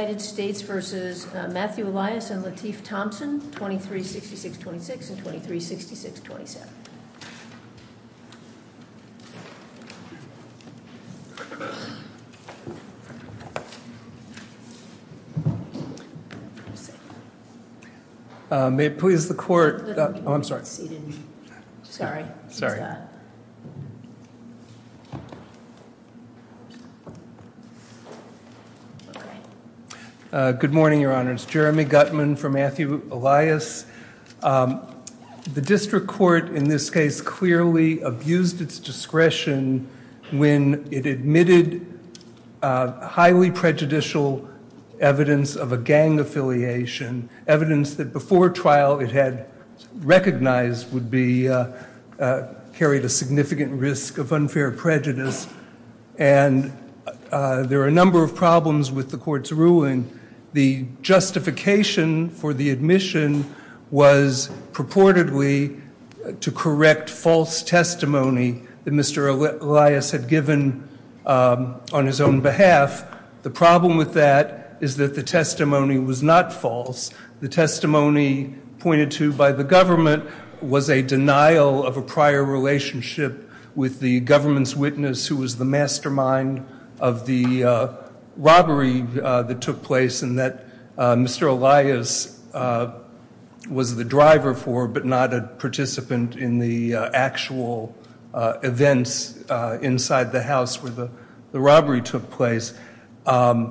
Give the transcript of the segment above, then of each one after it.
United States v. Matthew Elias and Lateef Thompson, 2366-26 and 2366-27. Good morning, Your Honors. Jeremy Gutman from Matthew Elias. The district court in this case clearly abused its discretion when it admitted highly prejudicial evidence of a gang affiliation, evidence that before trial it had recognized would be carried a significant risk of unfair prejudice. And there are a number of problems with the court's ruling. The justification for the admission was purportedly to correct false testimony that Mr. Elias had given on his own behalf. The problem with that is that the testimony was not false. The testimony pointed to by the government was a denial of a prior relationship with the government's witness who was the mastermind of the robbery that took place and that Mr. Elias was the driver for, but not a participant in the actual events inside the house where the robbery took place. The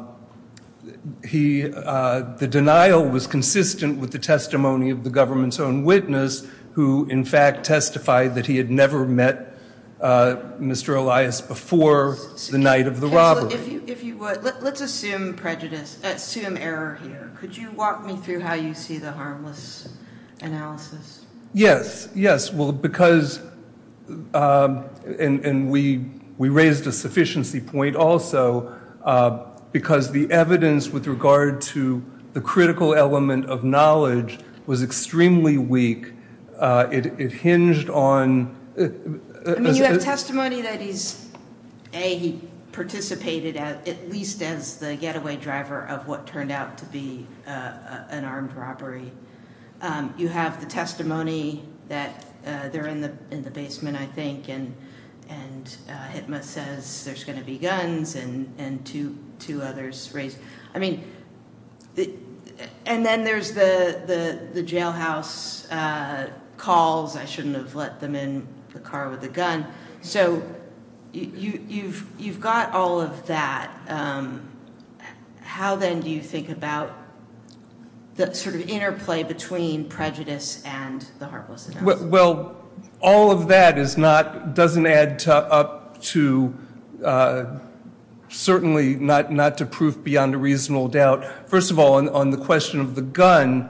denial was consistent with the testimony of the government's own witness who in fact testified that he had never met Mr. Elias before the night of the robbery. If you would, let's assume prejudice, assume error here. Could you walk me through how you see the harmless analysis? Yes, yes, well, because, and we raised a sufficiency point also. Because the evidence with regard to the critical element of knowledge was extremely weak. It hinged on- I mean, you have testimony that he's, A, he participated at least as the getaway driver of what turned out to be an armed robbery. You have the testimony that they're in the basement, I think, and Hitma says there's going to be guns and two others raised. I mean, and then there's the jailhouse calls. I shouldn't have let them in the car with a gun. So, you've got all of that. How then do you think about the sort of interplay between prejudice and the harmless analysis? Well, all of that is not, doesn't add up to, certainly not to proof beyond a reasonable doubt. First of all, on the question of the gun,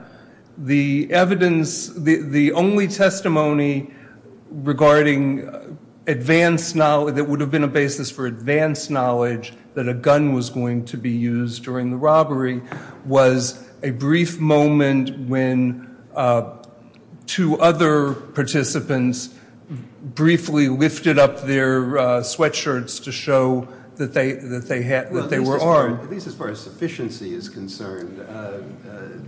the evidence, the only testimony regarding advance knowledge, that would have been a basis for advance knowledge that a gun was going to be used during the robbery, was a brief moment when two other participants briefly lifted up their sweatshirts to show that they were armed. At least as far as sufficiency is concerned,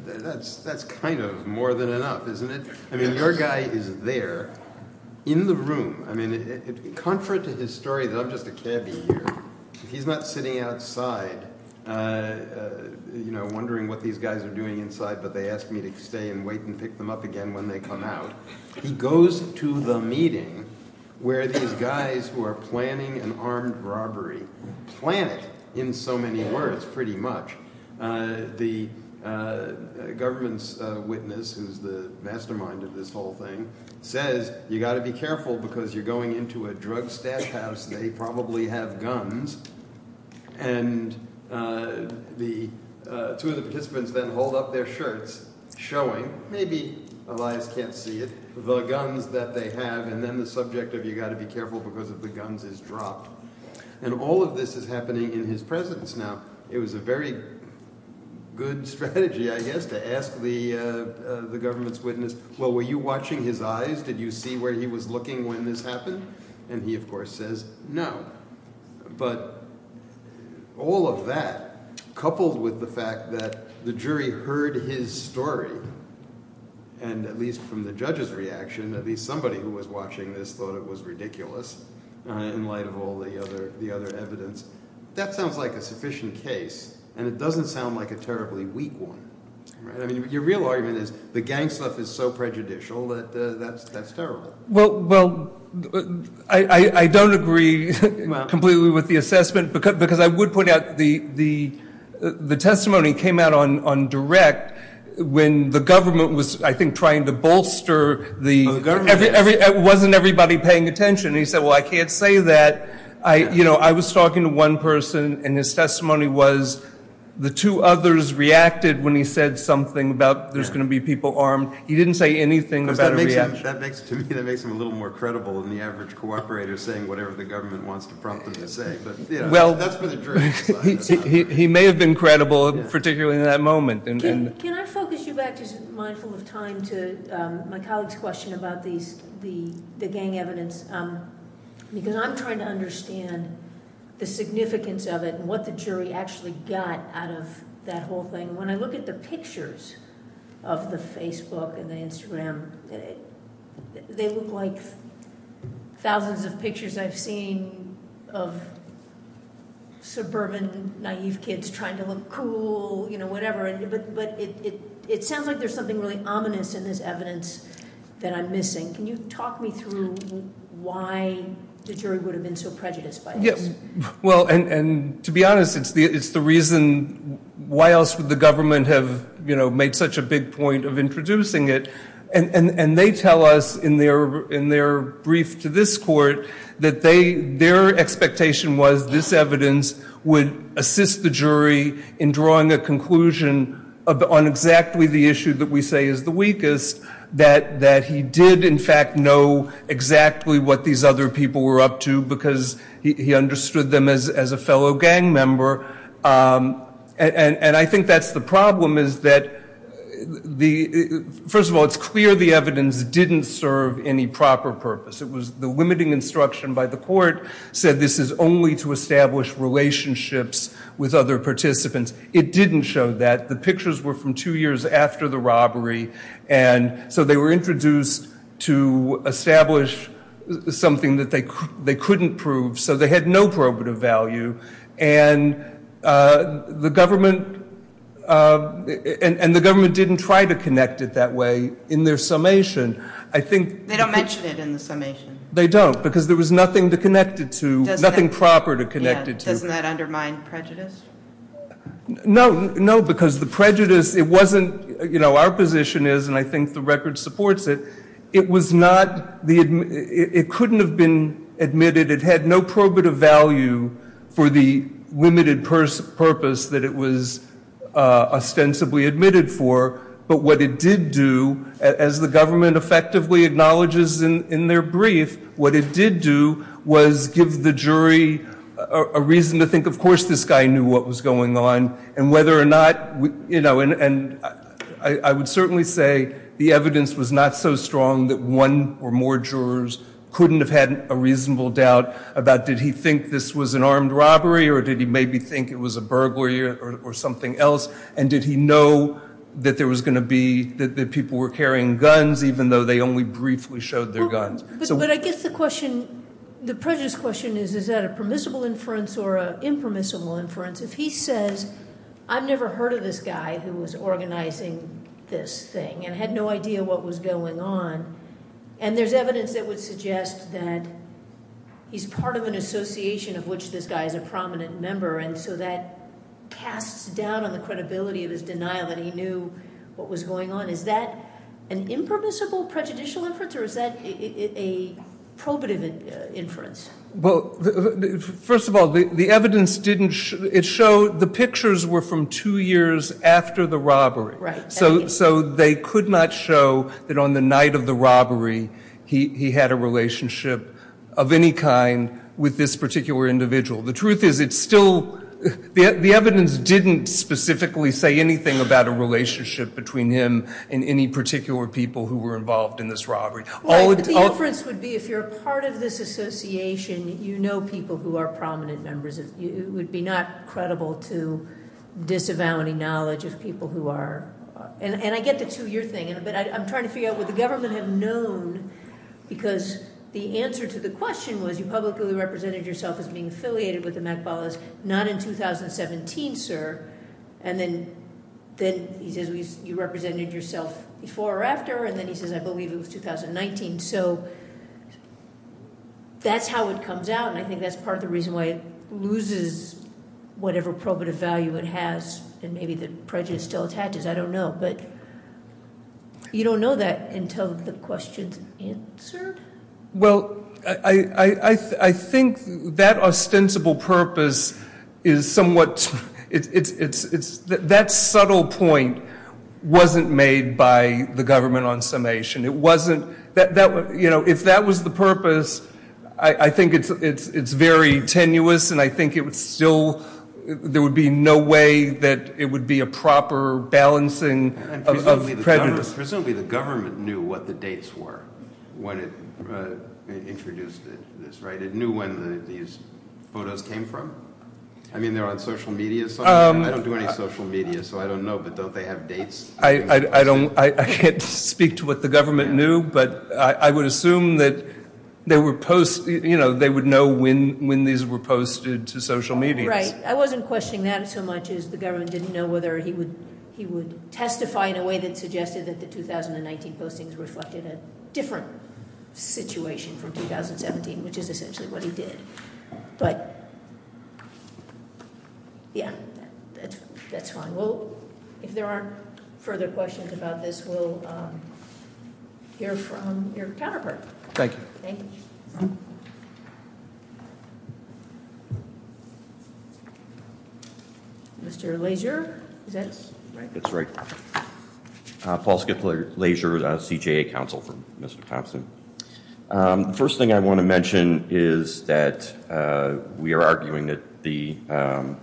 that's kind of more than enough, isn't it? I mean, your guy is there in the room. I mean, contrary to his story that I'm just a cabbie here, he's not sitting outside, you know, wondering what these guys are doing inside, but they ask me to stay and wait and pick them up again when they come out. He goes to the meeting where these guys who are planning an armed robbery, plan it in so many words, pretty much. The government's witness, who's the mastermind of this whole thing, says, you've got to be careful because you're going into a drug stash house, they probably have guns. And the, two of the participants then hold up their shirts, showing, maybe Elias can't see it, the guns that they have, and then the subject of you've got to be careful because if the guns is dropped. And all of this is happening in his presence. Now, it was a very good strategy, I guess, to ask the government's witness, well, were you watching his eyes? Did you see where he was looking when this happened? And he, of course, says no. But all of that, coupled with the fact that the jury heard his story, and at least from the judge's reaction, at least somebody who was watching this thought it was ridiculous, in light of all the other evidence. That sounds like a sufficient case, and it doesn't sound like a terribly weak one. I mean, your real argument is, the gang stuff is so prejudicial that that's terrible. Well, I don't agree completely with the assessment, because I would point out the testimony came out on direct when the government was, I think, trying to bolster the... It wasn't everybody paying attention. And he said, well, I can't say that. I was talking to one person, and his testimony was, the two others reacted when he said something about there's going to be people armed. He didn't say anything about a reaction. Because to me, that makes him a little more credible than the average cooperator saying whatever the government wants to prompt him to say. But that's where the jury's side is on. He may have been credible, particularly in that moment. Can I focus you back, just mindful of time, to my colleague's question about the gang evidence? Because I'm trying to understand the significance of it, and what the jury actually got out of that whole thing. When I look at the pictures of the Facebook and the Instagram, they look like thousands of pictures I've seen of suburban naive kids trying to look cool, whatever. But it sounds like there's something really ominous in this evidence that I'm missing. Can you talk me through why the jury would have been so prejudiced by this? Well, and to be honest, it's the reason, why else would the government have made such a big point of introducing it? And they tell us in their brief to this court that their expectation was this evidence would assist the jury in drawing a conclusion on exactly the issue that we say is the weakest, that he did, in fact, know exactly what these other people were up to because he understood them as a fellow gang member. And I think that's the problem, is that, first of all, it's clear the evidence didn't serve any proper purpose. It was the limiting instruction by the court, said this is only to establish relationships with other participants. It didn't show that. The pictures were from two years after the robbery. And so they were introduced to establish something that they couldn't prove. So they had no probative value. And the government didn't try to connect it that way. In their summation, I think... They don't mention it in the summation. They don't, because there was nothing to connect it to, nothing proper to connect it to. Doesn't that undermine prejudice? No, no, because the prejudice, it wasn't... You know, our position is, and I think the record supports it, it was not... It couldn't have been admitted. It had no probative value for the limited purpose that it was ostensibly admitted for. But what it did do, as the government effectively acknowledges in their brief, what it did do was give the jury a reason to think, of course this guy knew what was going on, and whether or not... You know, and I would certainly say the evidence was not so strong that one or more jurors couldn't have had a reasonable doubt about did he think this was an armed robbery or did he maybe think it was a burglary or something else? And did he know that there was going to be... That people were carrying guns, even though they only briefly showed their guns. But I guess the question, the prejudice question is, is that a permissible inference or an impermissible inference? If he says, I've never heard of this guy who was organising this thing and had no idea what was going on, and there's evidence that would suggest that he's part of an association of which this guy is a prominent member, and so that casts down on the credibility of his denial that he knew what was going on. Is that an impermissible prejudicial inference or is that a probative inference? Well, first of all, the evidence didn't... It showed... The pictures were from two years after the robbery. Right. So they could not show that on the night of the robbery he had a relationship of any kind with this particular individual. The truth is, it's still... The evidence didn't specifically say anything about a relationship between him and any particular people who were involved in this robbery. The inference would be, if you're a part of this association, you know people who are prominent members. It would be not credible to disavow any knowledge of people who are... And I get the two-year thing, but I'm trying to figure out what the government had known, because the answer to the question was, you publicly represented yourself as being affiliated with the Makhbalis, not in 2017, sir. And then he says, you represented yourself before or after, and then he says, I believe it was 2019. So that's how it comes out, and I think that's part of the reason why it loses whatever probative value it has, and maybe the prejudice still attaches, I don't know. But you don't know that until the question's answered? Well, I think that ostensible purpose is somewhat... That subtle point wasn't made by the government on summation. It wasn't... You know, if that was the purpose, I think it's very tenuous, and I think it would still... There would be no way that it would be a proper balancing of prejudice. Presumably the government knew what the dates were when it introduced this, right? It knew when these photos came from. I mean, they're on social media, so I don't do any social media, so I don't know, but don't they have dates? I can't speak to what the government knew, but I would assume that they would know when these were posted to social media. Right. I wasn't questioning that so much as the government didn't know whether he would testify in a way that suggested that the 2019 postings reflected a different situation from 2017, which is essentially what he did. But... Yeah, that's fine. Well, if there aren't further questions about this, we'll hear from your counterpart. Thank you. Thank you. Mr Leisure, is that...? That's right. Paul Skip Leisure, CJA counsel for Mr Thompson. The first thing I want to mention is that we are arguing that the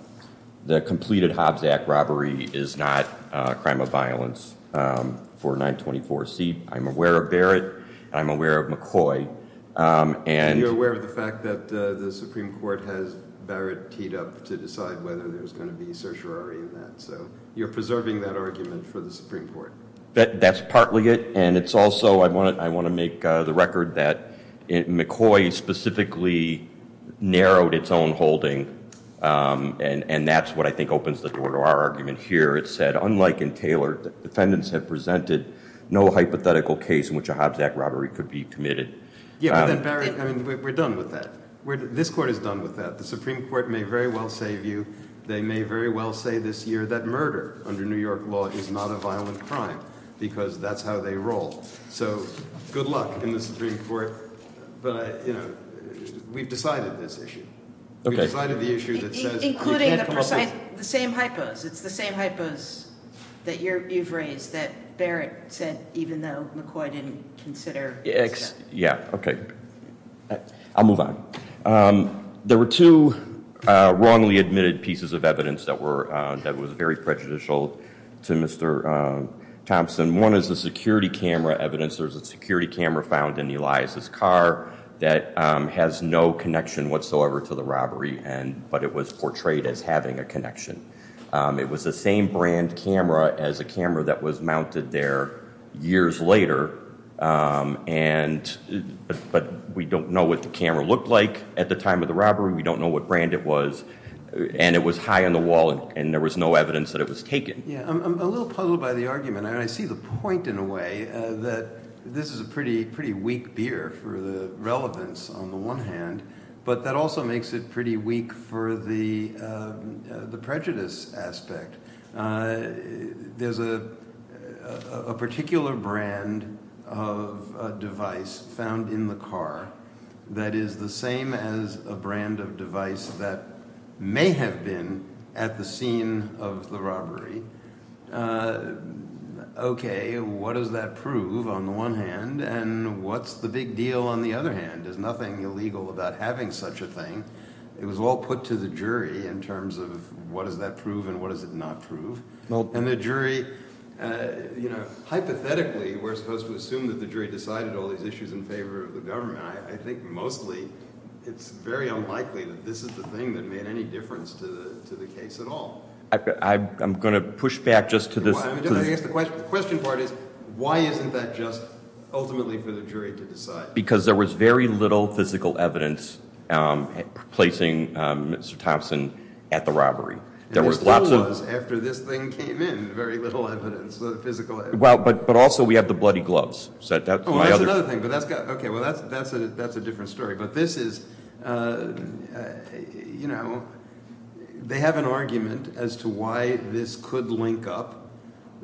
completed Hobbs Act robbery is not a crime of violence for 924C. I'm aware of Barrett, I'm aware of McCoy, and... And you're aware of the fact that the Supreme Court has Barrett teed up to decide whether there's going to be certiorari in that, so you're preserving that argument for the Supreme Court. That's partly it, and it's also... I want to make the record that McCoy specifically narrowed its own holding, and that's what I think opens the door to our argument here. It said, unlike in Taylor, the defendants have presented no hypothetical case in which a Hobbs Act robbery could be committed. Yeah, but then, Barrett, I mean, we're done with that. This Court is done with that. The Supreme Court may very well say of you, they may very well say this year, that murder under New York law is not a violent crime because that's how they roll. So, good luck in the Supreme Court. But, you know, we've decided this issue. We've decided the issue that says... Including the precise, the same hypos. It's the same hypos that you've raised, that Barrett said, even though McCoy didn't consider... Yeah, okay. I'll move on. There were two wrongly admitted pieces of evidence that was very prejudicial to Mr. Thompson. One is the security camera evidence. There's a security camera found in Elias's car that has no connection whatsoever to the robbery, but it was portrayed as having a connection. It was the same brand camera as a camera that was mounted there years later, but we don't know what the camera looked like at the time of the robbery. We don't know what brand it was, and it was high on the wall, and there was no evidence that it was taken. Yeah, I'm a little puzzled by the argument. And I see the point in a way that this is a pretty weak beer for the relevance on the one hand, but that also makes it pretty weak for the prejudice aspect. There's a particular brand of device found in the car that is the same as a brand of device that may have been at the scene of the robbery. Okay, what does that prove on the one hand, and what's the big deal on the other hand? There's nothing illegal about having such a thing. It was all put to the jury in terms of what does that prove and what does it not prove. And the jury, hypothetically, we're supposed to assume that the jury decided all these issues in favor of the government. I think mostly it's very unlikely that this is the thing that made any difference to the case at all. I'm gonna push back just to this. I guess the question part is, why isn't that just ultimately for the jury to decide? Because there was very little physical evidence placing Mr. Thompson at the robbery. There was lots of- And there still was after this thing came in, very little evidence, physical evidence. Well, but also we have the bloody gloves. So that's my other- Oh, that's another thing, but that's got, okay, well, that's a different story. But this is, you know, they have an argument as to why this could link up.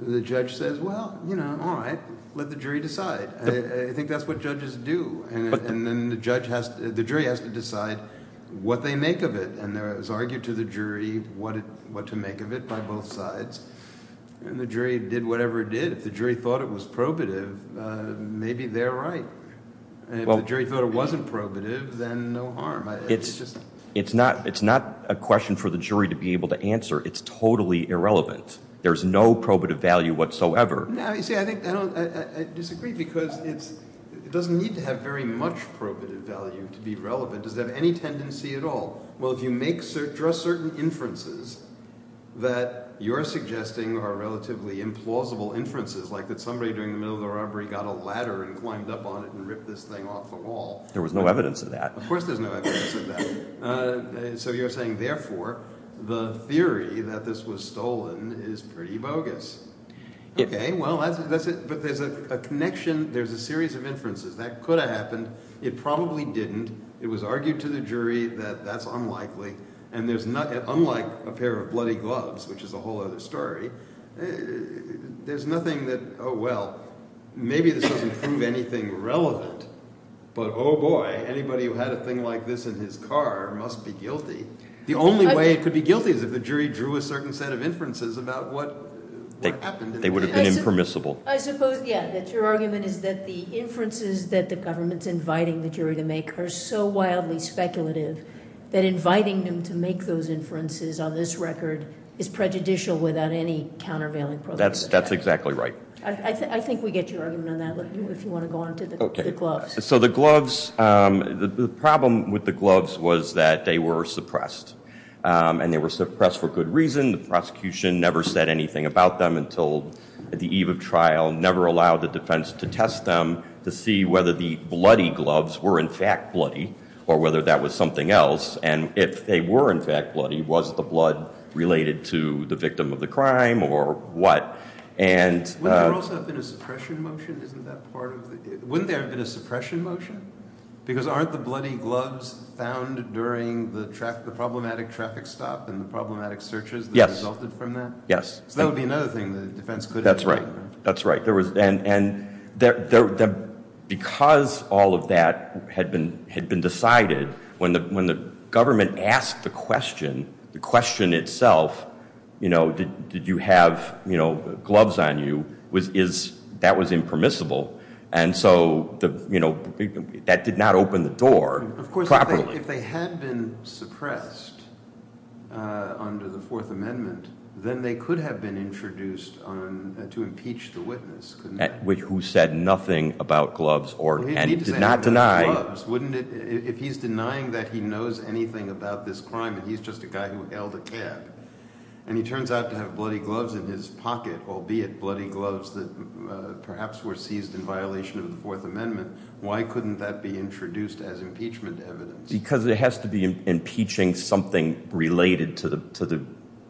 The judge says, well, you know, all right, let the jury decide. I think that's what judges do. And then the jury has to decide what they make of it. And there was argued to the jury what to make of it by both sides. And the jury did whatever it did. If the jury thought it was probative, maybe they're right. And if the jury thought it wasn't probative, then no harm. It's just- It's not a question for the jury to be able to answer. It's totally irrelevant. There's no probative value whatsoever. No, you see, I think, I disagree because it doesn't need to have very much probative value to be relevant. Does it have any tendency at all? Well, if you make certain inferences that you're suggesting are relatively implausible inferences, like that somebody during the middle of the robbery got a ladder and climbed up on it and ripped this thing off the wall. There was no evidence of that. Of course there's no evidence of that. So you're saying, therefore, the theory that this was stolen is pretty bogus. Okay, well, that's it. But there's a connection. There's a series of inferences. That could have happened. It probably didn't. It was argued to the jury that that's unlikely. And there's not, unlike a pair of bloody gloves, which is a whole other story, there's nothing that, oh, well, maybe this doesn't prove anything relevant, but, oh, boy, anybody who had a thing like this in his car must be guilty. The only way it could be guilty is if the jury drew a certain set of inferences about what happened. They would have been impermissible. I suppose, yeah, that your argument is that the inferences that the government's inviting the jury to make are so wildly speculative that inviting them to make those inferences on this record is prejudicial without any countervailing proof. That's exactly right. I think we get your argument on that. If you wanna go on to the gloves. So the gloves, the problem with the gloves was that they were suppressed. And they were suppressed for good reason. The prosecution never said anything about them until at the eve of trial, never allowed the defense to test them to see whether the bloody gloves were, in fact, bloody or whether that was something else. And if they were, in fact, bloody, was the blood related to the victim of the crime or what? And- Would there also have been a suppression motion? Wouldn't there have been a suppression motion? Because aren't the bloody gloves found during the problematic traffic stop and the problematic searches that resulted from that? Yes. So that would be another thing the defense could have- That's right. That's right. Because all of that had been decided, when the government asked the question, the question itself, did you have gloves on you, that was impermissible. And so that did not open the door properly. Of course, if they had been suppressed under the Fourth Amendment, then they could have been introduced to impeach the witness, couldn't they? Who said nothing about gloves or, and he did not deny- He didn't say anything about gloves, wouldn't it? If he's denying that he knows anything about this crime and he's just a guy who held a cap and he turns out to have bloody gloves in his pocket, albeit bloody gloves that perhaps were seized in violation of the Fourth Amendment, why couldn't that be introduced as impeachment evidence? Because it has to be impeaching something related to the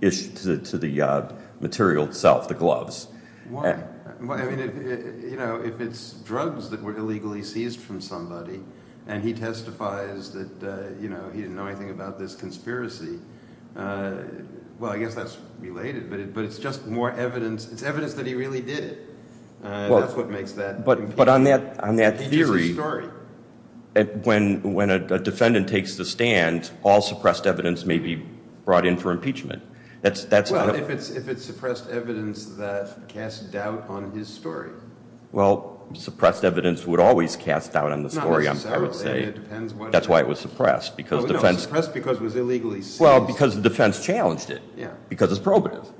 issue, to the material itself, the gloves. Why? Well, I mean, if it's drugs that were illegally seized from somebody and he testifies that he didn't know anything about this conspiracy, well, I guess that's related, but it's just more evidence. It's evidence that he really did it. That's what makes that- But on that theory, when a defendant takes the stand, all suppressed evidence may be brought in for impeachment. That's- Well, if it's suppressed evidence that casts doubt on his story. Well, suppressed evidence would always cast doubt on the story, I would say. That's why it was suppressed because defense- Suppressed because it was illegally seized. Well, because the defense challenged it because it's probative.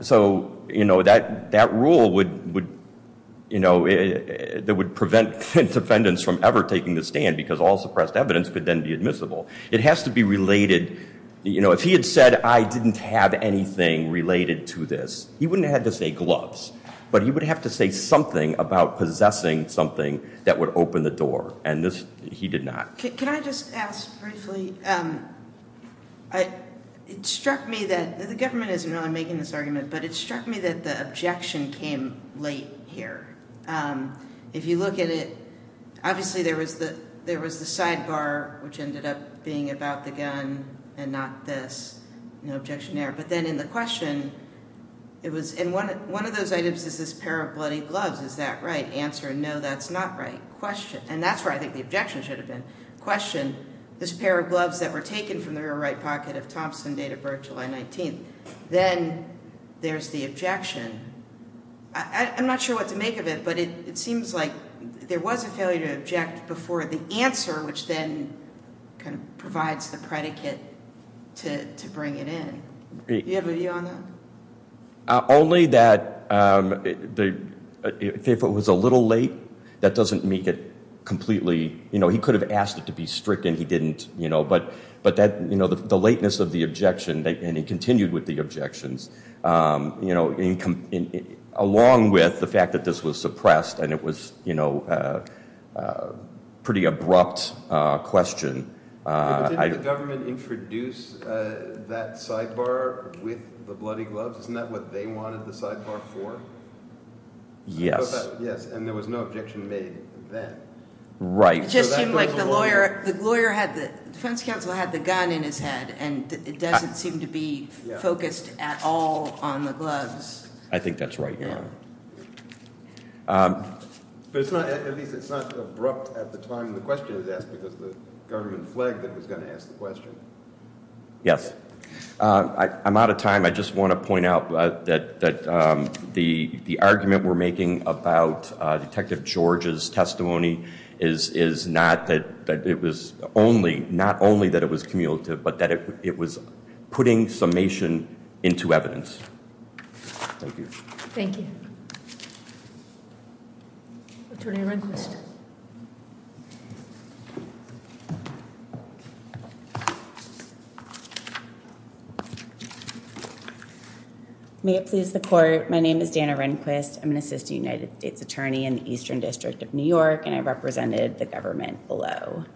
So, you know, that rule would, you know, that would prevent defendants from ever taking the stand because all suppressed evidence could then be admissible. It has to be related, you know, if he had said, I didn't have anything related to this, he wouldn't have had to say gloves, but he would have to say something about possessing something that would open the door. And this, he did not. Can I just ask briefly? It struck me that the government isn't really making this argument, but it struck me that the objection came late here. If you look at it, obviously there was the sidebar, which ended up being about the gun and not this, no objection there. But then in the question, it was, and one of those items is this pair of bloody gloves. Is that right? Answer, no, that's not right. Question, and that's where I think the objection should have been. Question, this pair of gloves that were taken from the right pocket of Thompson date of birth, July 19th. Then there's the objection. I'm not sure what to make of it, but it seems like there was a failure to object before the answer, which then kind of provides the predicate to bring it in. Do you have a view on that? Only that if it was a little late, that doesn't make it completely, you know, he could have asked it to be stricken. He didn't, you know, but that, you know, the lateness of the objection, and he continued with the objections, you know, along with the fact that this was suppressed and it was, you know, a pretty abrupt question. Didn't the government introduce that sidebar with the bloody gloves? Isn't that what they wanted the sidebar for? Yes. Yes, and there was no objection made then. Right. It just seemed like the lawyer had the, defense counsel had the gun in his head and it doesn't seem to be focused at all on the gloves. I think that's right, yeah. But it's not, at least it's not abrupt at the time the question was asked because the government flagged it was gonna ask the question. Yes, I'm out of time. I just wanna point out that the argument we're making about Detective George's testimony is not that it was only, not only that it was cumulative, but that it was putting summation into evidence. Thank you. Thank you. Attorney Rehnquist. May it please the court. My name is Dana Rehnquist. I'm an Assistant United States Attorney in the Eastern District of New York and I represented the government below.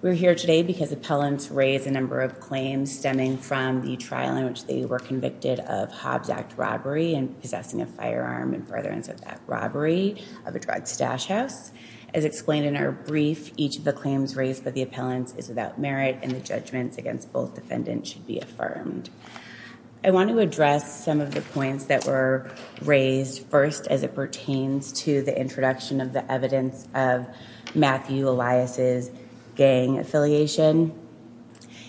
We're here today because appellants raised a number of claims stemming from the trial in which they were convicted of Hobbs Act robbery and possessing a firearm and furtherance of that robbery of a drug stash house. As explained in our brief, each of the claims raised by the appellants is without merit and the judgments against both defendants should be affirmed. I want to address some of the points that were raised first as it pertains to the introduction of the evidence of Matthew Elias's gang affiliation.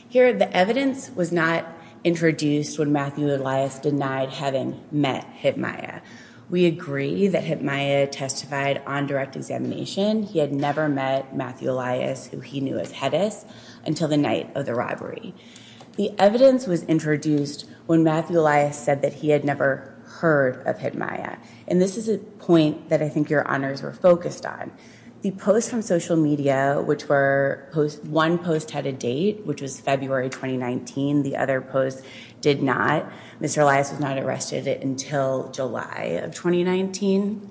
Here, the evidence was not introduced when Matthew Elias denied having met Hyp Mya. We agree that Hyp Mya testified on direct examination. He had never met Matthew Elias, who he knew as Hedis, until the night of the robbery. The evidence was introduced when Matthew Elias said that he had never heard of Hyp Mya. And this is a point that I think your honors were focused on. The post from social media, which were post, one post had a date, which was February, 2019. The other post did not. Mr. Elias was not arrested until July of 2019.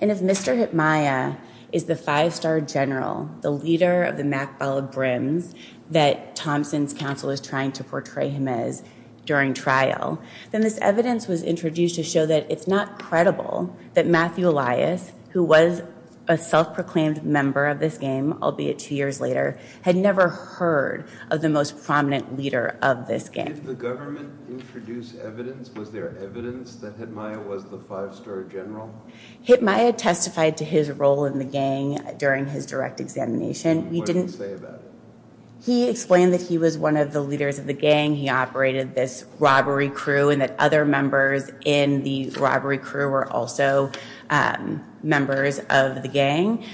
And if Mr. Hyp Mya is the five-star general, the leader of the Mackball Brims that Thompson's counsel is trying to portray him as during trial, then this evidence was introduced to show that it's not credible that Matthew Elias, who was a self-proclaimed member of this gang, albeit two years later, had never heard of the most prominent leader of this gang. Did the government introduce evidence? Was there evidence that Hyp Mya was the five-star general? Hyp Mya testified to his role in the gang during his direct examination. What did he say about it? He explained that he was one of the leaders of the gang. He operated this robbery crew, and that other members in the robbery crew were also members of the gang.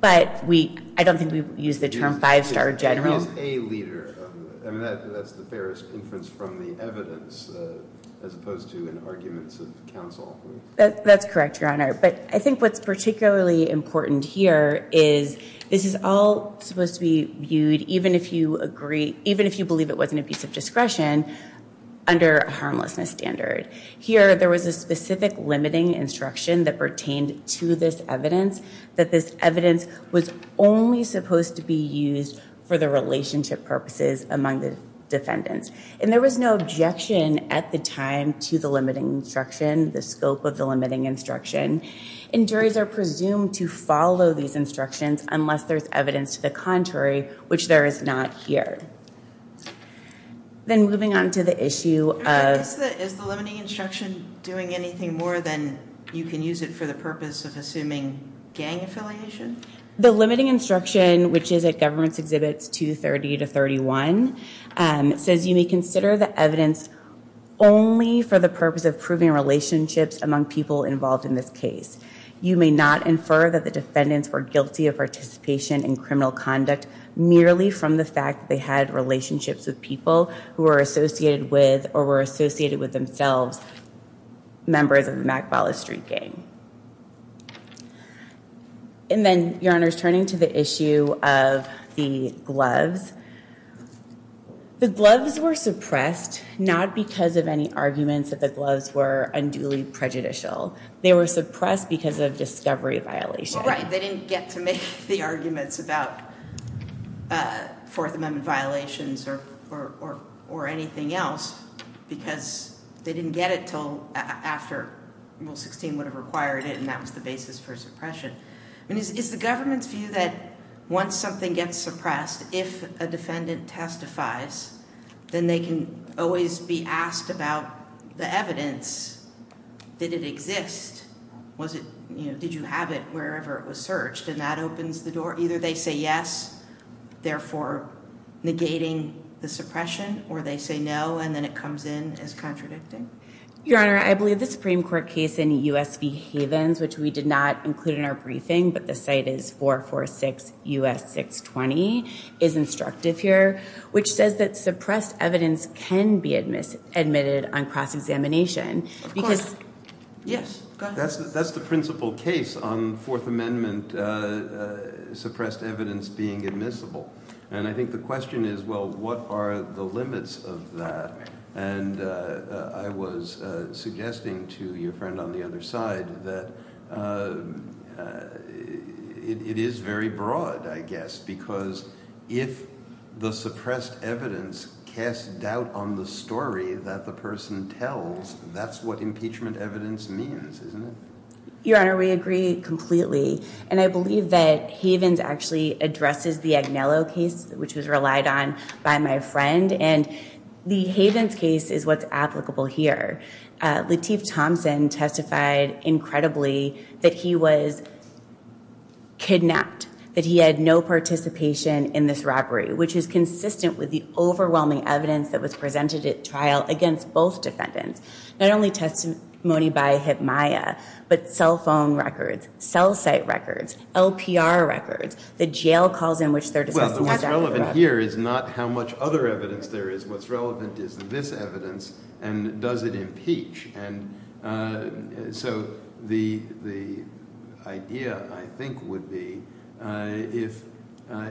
But I don't think we used the term five-star general. He is a leader. That's the fairest inference from the evidence, as opposed to in arguments of counsel. That's correct, your honor. But I think what's particularly important here is this is all supposed to be viewed, even if you believe it wasn't a piece of discretion, under a harmlessness standard. Here, there was a specific limiting instruction that pertained to this evidence, that this evidence was only supposed to be used for the relationship purposes among the defendants. And there was no objection at the time to the limiting instruction, the scope of the limiting instruction. And juries are presumed to follow these instructions unless there's evidence to the contrary, which there is not here. Then moving on to the issue of- Is the limiting instruction doing anything more than you can use it for the purpose of assuming gang affiliation? The limiting instruction, which is at Governments Exhibits 230 to 31, says you may consider the evidence only for the purpose of proving relationships among people involved in this case. You may not infer that the defendants were guilty of participation in criminal conduct merely from the fact they had relationships with people who were associated with, or were associated with themselves, members of the McFarland Street gang. And then, Your Honor, turning to the issue of the gloves, the gloves were suppressed not because of any arguments that the gloves were unduly prejudicial. They were suppressed because of discovery violations. Right, they didn't get to make the arguments about Fourth Amendment violations or anything else because they didn't get it until after Rule 16 would have required it. And that was the basis for suppression. I mean, is the government's view that once something gets suppressed, if a defendant testifies, then they can always be asked about the evidence? Did it exist? Was it, you know, did you have it wherever it was searched? And that opens the door. Either they say yes, therefore negating the suppression, or they say no, and then it comes in as contradicting. Your Honor, I believe the Supreme Court case in US v. Havens, which we did not include in our briefing, but the site is 446 US 620, is instructive here, which says that suppressed evidence can be admitted on cross-examination because. Yes, go ahead. That's the principal case on Fourth Amendment suppressed evidence being admissible. And I think the question is, well, what are the limits of that? And I was suggesting to your friend on the other side that it is very broad, I guess, because if the suppressed evidence casts doubt on the story that the person tells, that's what impeachment evidence means, isn't it? Your Honor, we agree completely. And I believe that Havens actually addresses the Agnello case, which was relied on by my friend. And the Havens case is what's applicable here. Lateef Thompson testified incredibly that he was kidnapped, that he had no participation in this robbery, which is consistent with the overwhelming evidence that presented at trial against both defendants, not only testimony by Hibmaiah, but cell phone records, cell site records, LPR records, the jail calls in which they're discussing that. Well, what's relevant here is not how much other evidence there is. What's relevant is this evidence, and does it impeach? And so the idea, I think, would be if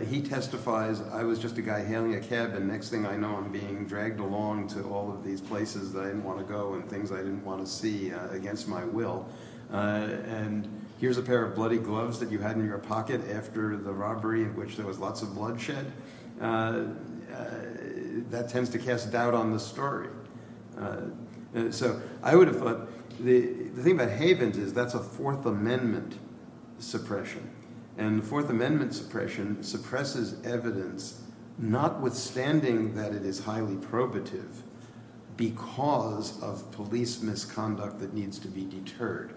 he testifies, I was just a guy hailing a cabin. Next thing I know, I'm being dragged along to all of these places that I didn't want to go and things I didn't want to see against my will. And here's a pair of bloody gloves that you had in your pocket after the robbery in which there was lots of bloodshed. That tends to cast doubt on the story. So I would have thought, the thing about Havens is that's a Fourth Amendment suppression. And the Fourth Amendment suppression suppresses evidence, notwithstanding that it is highly probative, because of police misconduct that needs to be deterred.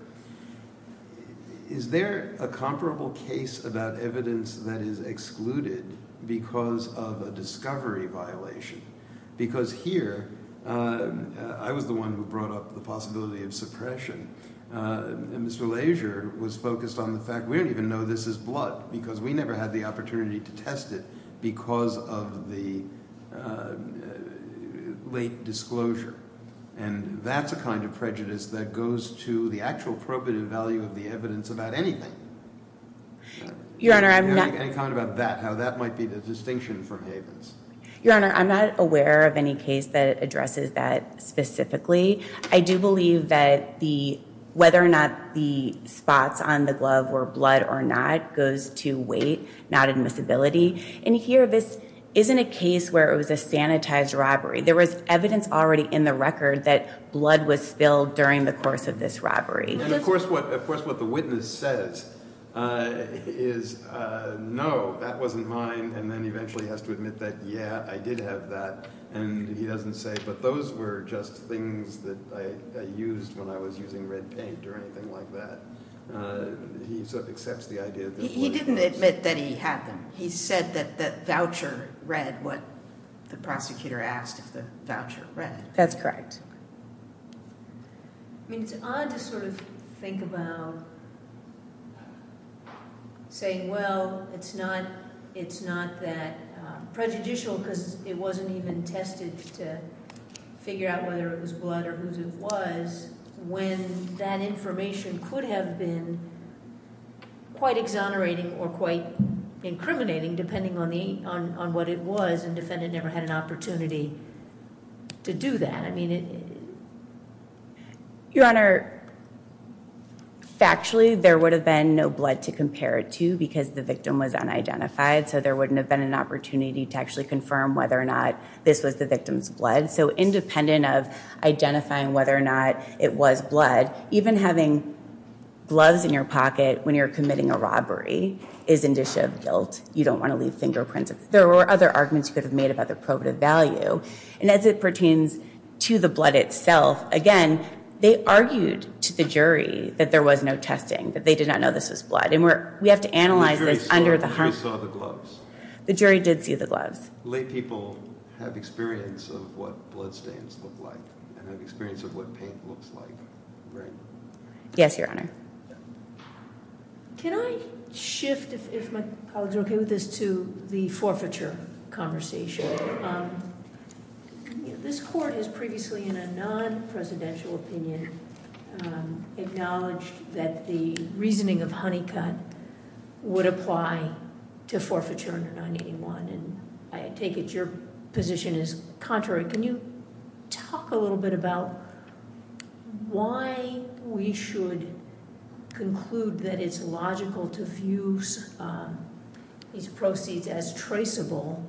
Is there a comparable case about evidence that is excluded because of a discovery violation? Because here, I was the one who brought up the possibility of suppression. And Mr. Lasier was focused on the fact we don't even know this is blood because we never had the opportunity to test it because of the late disclosure. And that's a kind of prejudice that goes to the actual probative value of the evidence about anything. Your Honor, I'm not. Any comment about that, how that might be the distinction from Havens? Your Honor, I'm not aware of any case that addresses that specifically. I do believe that whether or not the spots on the glove were blood or not goes to weight, not admissibility. And here, this isn't a case where it was a sanitized robbery. There was evidence already in the record that blood was spilled during the course of this robbery. And of course, what the witness says is, no, that wasn't mine. And then eventually has to admit that, yeah, I did have that. And he doesn't say, but those were just things that I used when I was using red paint or anything like that. He sort of accepts the idea that blood was. He didn't admit that he had them. He said that the voucher read what the prosecutor asked if the voucher read. That's correct. I mean, it's odd to sort of think about saying, well, it's not that prejudicial because it wasn't even tested to figure out whether it was blood or whose it was. When that information could have been quite exonerating or quite incriminating, depending on what it was, and defendant never had an opportunity to do that. I mean, it is. Your Honor, factually, there would have been no blood to compare it to because the victim was unidentified. So there wouldn't have been an opportunity to actually confirm whether or not this was the victim's blood. So independent of identifying whether or not it was blood, even having gloves in your pocket when you're committing a robbery is indicia of guilt. You don't want to leave fingerprints. There were other arguments you could have made about the probative value. And as it pertains to the blood itself, again, they argued to the jury that there was no testing, that they did not know this was blood. And we have to analyze this under the harm. The jury saw the gloves. The jury did see the gloves. Lay people have experience of what bloodstains look like and have experience of what paint looks like, right? Yes, Your Honor. Can I shift, if my colleagues are OK with this, to the forfeiture conversation? This court has previously, in a non-presidential opinion, acknowledged that the reasoning of Honeycutt would apply to forfeiture under 981. I take it your position is contrary. Can you talk a little bit about why we should conclude that it's logical to fuse these proceeds as traceable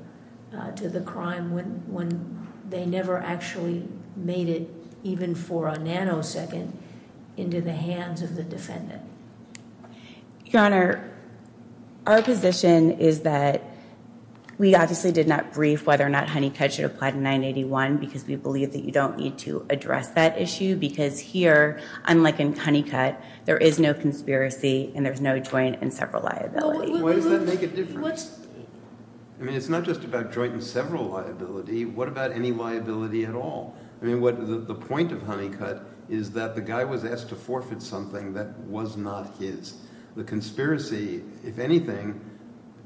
to the crime when they never actually made it, even for a nanosecond, into the hands of the defendant? Your Honor, our position is that we obviously did not brief whether or not Honeycutt should apply to 981 because we believe that you don't need to address that issue. Because here, unlike in Honeycutt, there is no conspiracy and there's no joint and several liability. Why does that make a difference? I mean, it's not just about joint and several liability. What about any liability at all? I mean, the point of Honeycutt is that the guy was asked to forfeit something that was not his. The conspiracy, if anything,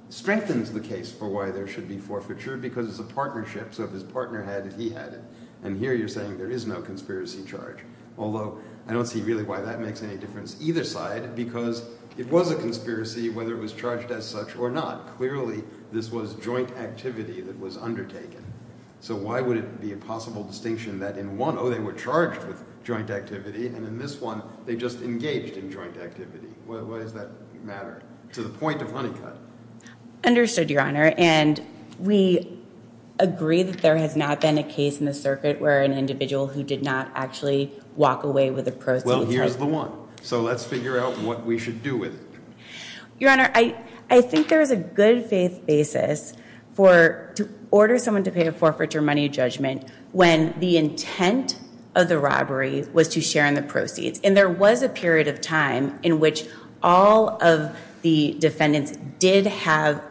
strengthens the case for why there should be forfeiture because it's a partnership. So if his partner had it, he had it. And here, you're saying there is no conspiracy charge. Although, I don't see really why that makes any difference either side because it was a conspiracy, whether it was charged as such or not. Clearly, this was joint activity that was undertaken. So why would it be a possible distinction that in one, oh, they were charged with joint activity, and in this one, they just engaged in joint activity? Why does that matter to the point of Honeycutt? Understood, Your Honor. And we agree that there has not been a case in the circuit where an individual who did not actually walk away with a proceeds. Well, here's the one. So let's figure out what we should do with it. Your Honor, I think there is a good faith basis to order someone to pay a forfeiture money judgment when the intent of the robbery was to share in the proceeds. And there was a period of time in which all of the defendants did have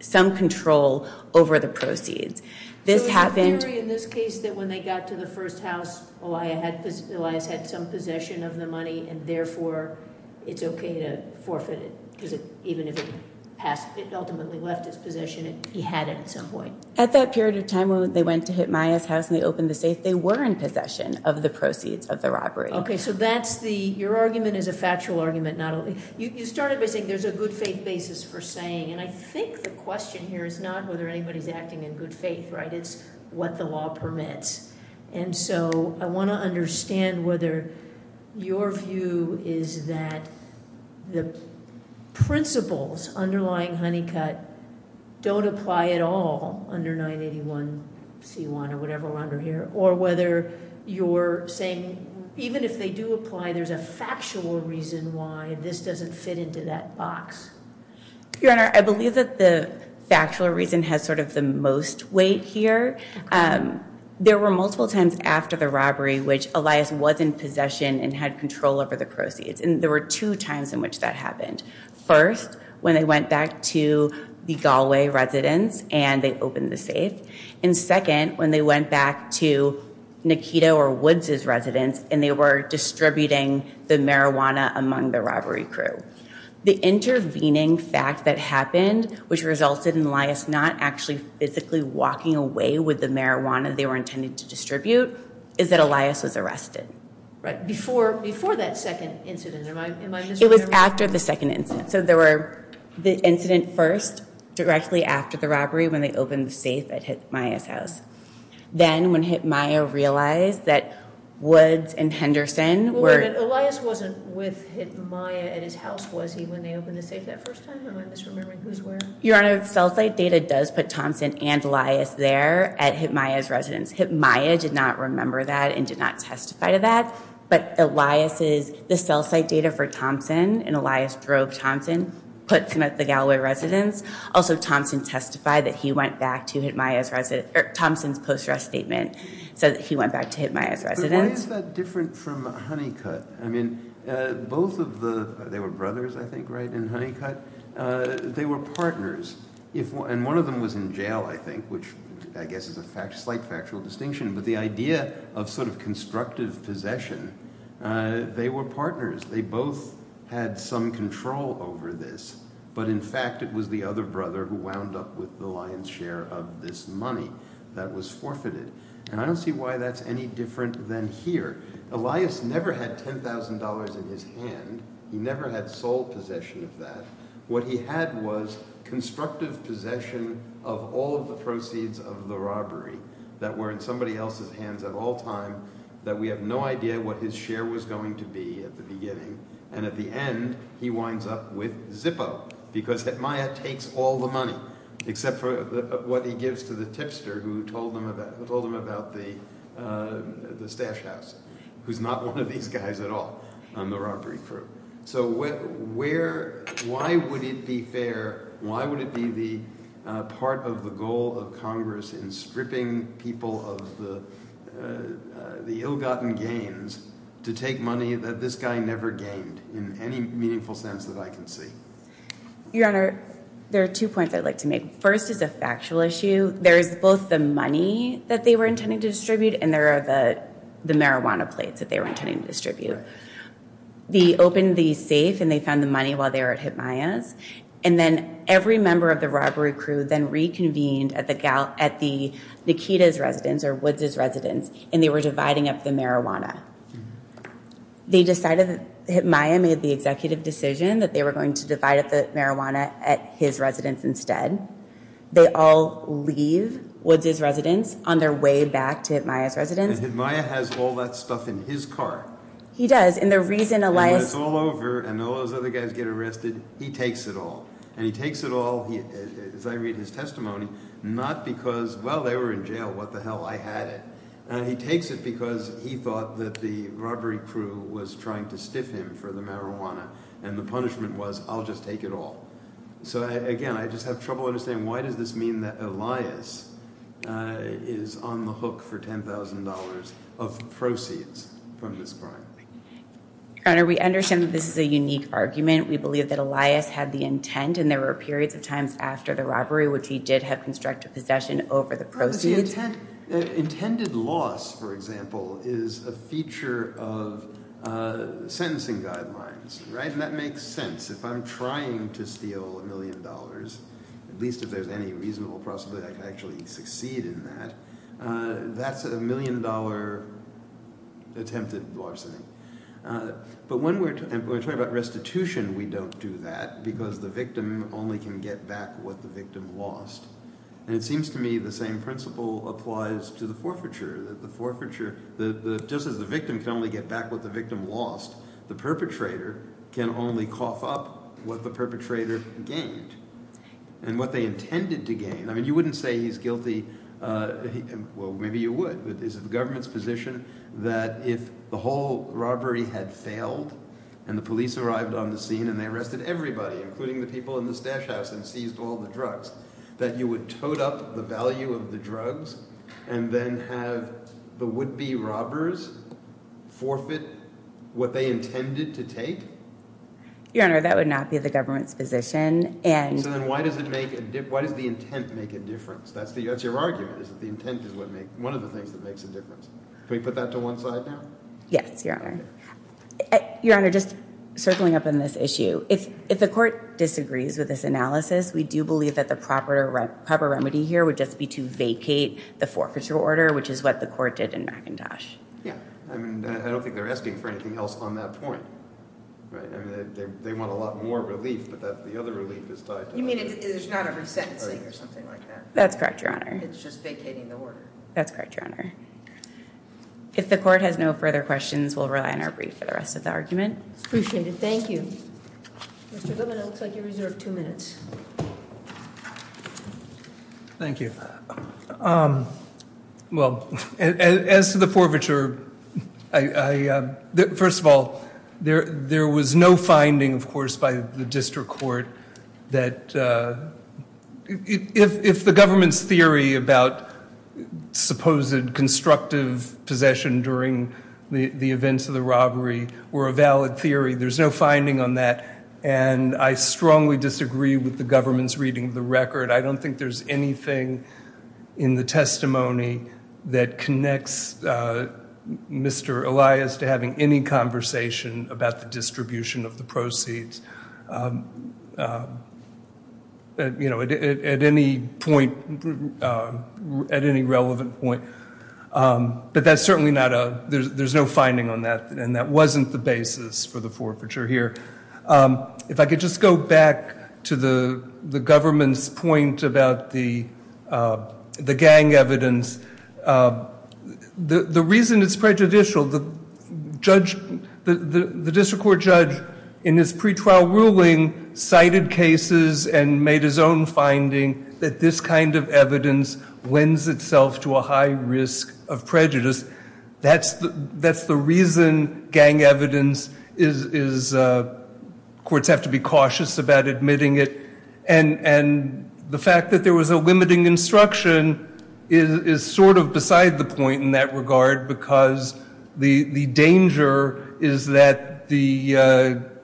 some control over the proceeds. This happened. So in this case, that when they got to the first house, Elias had some possession of the money, and therefore, it's OK to forfeit it because even if it ultimately left his possession, he had it at some point. At that period of time when they went to hit Maya's house and they opened the safe, they were in possession of the proceeds of the robbery. OK, so that's the, your argument is a factual argument. You started by saying there's a good faith basis for saying, and I think the question here is not whether anybody's acting in good faith, right? It's what the law permits. And so I want to understand whether your view is that the principles underlying Honeycutt don't apply at all under 981c1 or whatever we're under here, or whether you're saying even if they do apply, there's a factual reason why this doesn't fit into that box. Your Honor, I believe that the factual reason has sort of the most weight here. There were multiple times after the robbery which Elias was in possession and had control over the proceeds. And there were two times in which that happened. First, when they went back to the Galway residence and they opened the safe. And second, when they went back to Nikita or Woods' residence and they were distributing the marijuana among the robbery crew. The intervening fact that happened, which resulted in Elias not actually physically walking away with the marijuana they were intended to distribute, is that Elias was arrested. Right, before that second incident, am I misremembering? It was after the second incident. So there were the incident first, directly after the robbery when they opened the safe at Hitmaya's house. Then when Hitmaya realized that Woods and Henderson weren't. Elias wasn't with Hitmaya at his house, was he, when they opened the safe that first time? Am I misremembering who's where? Your Honor, the cell site data does put Thompson and Elias there at Hitmaya's residence. Hitmaya did not remember that and did not testify to that. But Elias's, the cell site data for Thompson and Elias drove Thompson, put him at the Galloway residence. Also, Thompson testified that he went back to Hitmaya's residence, or Thompson's post-arrest statement said that he went back to Hitmaya's residence. But why is that different from Honeycutt? I mean, both of the, they were brothers, I think, right, in Honeycutt? They were partners. And one of them was in jail, I think, which I guess is a slight factual distinction. But the idea of sort of constructive possession, they were partners. They both had some control over this. But in fact, it was the other brother who wound up with the lion's share of this money that was forfeited. And I don't see why that's any different than here. Elias never had $10,000 in his hand. He never had sole possession of that. What he had was constructive possession of all of the proceeds of the robbery that were in somebody else's hands at all time that we have no idea what his share was going to be at the beginning. And at the end, he winds up with Zippo because Hitmaya takes all the money except for what he gives to the tipster who told him about the stash house, who's not one of these guys at all on the robbery crew. So where, why would it be fair, why would it be the part of the goal of Congress in stripping people of the ill-gotten gains to take money that this guy never gained in any meaningful sense that I can see? Your Honor, there are two points I'd like to make. First is a factual issue. There's both the money that they were intending to distribute and there are the marijuana plates that they were intending to distribute. They opened the safe and they found the money while they were at Hitmaya's. And then every member of the robbery crew then reconvened at the Nikita's residence or Woods' residence and they were dividing up the marijuana. They decided that Hitmaya made the executive decision that they were going to divide up the marijuana at his residence instead. They all leave Woods' residence on their way back to Hitmaya's residence. And Hitmaya has all that stuff in his car. He does, and the reason Elias- And when it's all over and all those other guys get arrested, he takes it all. And he takes it all, as I read his testimony, not because, well, they were in jail, what the hell, I had it. He takes it because he thought that the robbery crew was trying to stiff him for the marijuana and the punishment was, I'll just take it all. So again, I just have trouble understanding why does this mean that Elias is on the hook for $10,000 of proceeds from this crime? Your Honor, we understand that this is a unique argument. We believe that Elias had the intent and there were periods of times after the robbery which he did have constructive possession over the proceeds. Intended loss, for example, is a feature of sentencing guidelines, right? And that makes sense. If I'm trying to steal a million dollars, at least if there's any reasonable possibility I can actually succeed in that, that's a million dollar attempted larceny. But when we're talking about restitution, we don't do that because the victim only can get back what the victim lost. And it seems to me the same principle applies to the forfeiture, that the forfeiture, just as the victim can only get back what the victim lost, the perpetrator can only cough up what the perpetrator gained and what they intended to gain. I mean, you wouldn't say he's guilty, well, maybe you would, but is it the government's position that if the whole robbery had failed and the police arrived on the scene and they arrested everybody, including the people in the stash house and seized all the drugs, that you would toad up the value of the drugs and then have the would-be robbers forfeit what they intended to take? Your Honor, that would not be the government's position. So then why does the intent make a difference? That's your argument, is that the intent is one of the things that makes a difference. Can we put that to one side now? Yes, Your Honor. Your Honor, just circling up on this issue, if the court disagrees with this analysis, we do believe that the proper remedy here would just be to vacate the forfeiture order, which is what the court did in McIntosh. Yeah, I mean, I don't think they're asking for anything else on that point. Right, I mean, they want a lot more relief, but the other relief is tied to that. You mean, there's not a resentencing or something like that? That's correct, Your Honor. It's just vacating the order. That's correct, Your Honor. If the court has no further questions, we'll rely on our brief for the rest of the argument. It's appreciated, thank you. Mr. Goodman, it looks like you reserve two minutes. Thank you. Well, as to the forfeiture, first of all, there was no finding, of course, by the district court that if the government's theory about supposed constructive possession during the events of the robbery were a valid theory. There's no finding on that, and I strongly disagree with the government's reading of the record. I don't think there's anything in the testimony that connects Mr. Elias to having any conversation about the distribution of the proceeds. At any point, at any relevant point. But that's certainly not a, there's no finding on that, and that wasn't the basis for the forfeiture here. If I could just go back to the government's point about the gang evidence. The reason it's prejudicial, the district court judge in his pretrial ruling cited cases and made his own finding that this kind of evidence lends itself to a high risk of prejudice. That's the reason gang evidence is, courts have to be cautious about admitting it, and the fact that there was a limiting instruction is sort of beside the point in that regard because the danger is that the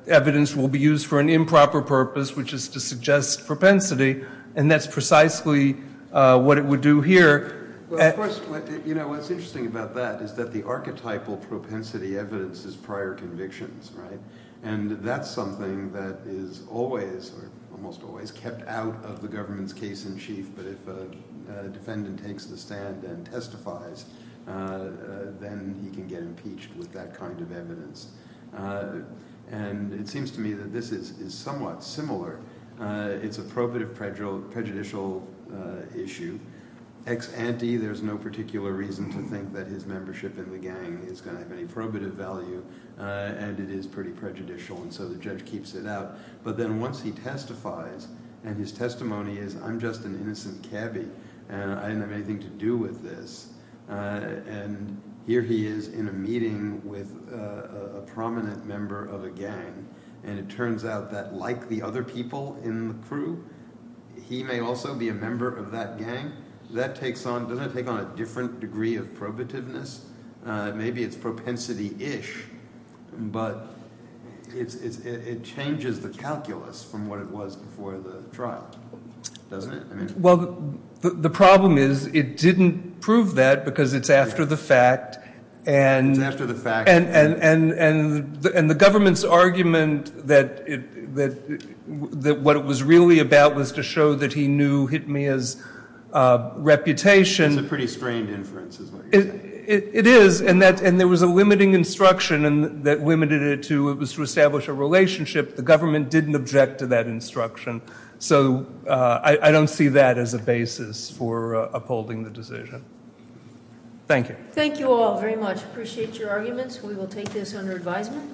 evidence will be used for an improper purpose, which is to suggest propensity, and that's precisely what it would do here. Well, of course, what's interesting about that is that the archetypal propensity evidence is prior convictions, right? And that's something that is always, almost always, kept out of the government's case in chief. But if a defendant takes the stand and testifies, then he can get impeached with that kind of evidence. And it seems to me that this is somewhat similar. It's a probative prejudicial issue. Ex ante, there's no particular reason to think that his membership in the gang is gonna have any probative value, and it is pretty prejudicial, and so the judge keeps it out. But then once he testifies, and his testimony is, I'm just an innocent cabbie, and I didn't have anything to do with this, and here he is in a meeting with a prominent member of a gang, and it turns out that, like the other people in the crew, he may also be a member of that gang. That takes on, doesn't it take on a different degree of probativeness? Maybe it's propensity-ish, but it changes the calculus from what it was before the trial, doesn't it? Well, the problem is, it didn't prove that, because it's after the fact, and the government's argument that what it was really about was to show that he knew Hitmia's reputation. It's a pretty strained inference, is what you're saying. It is, and there was a limiting instruction that limited it to, it was to establish a relationship. The government didn't object to that instruction. So, I don't see that as a basis for upholding the decision. Thank you. Thank you all very much. Appreciate your arguments. We will take this under advisement.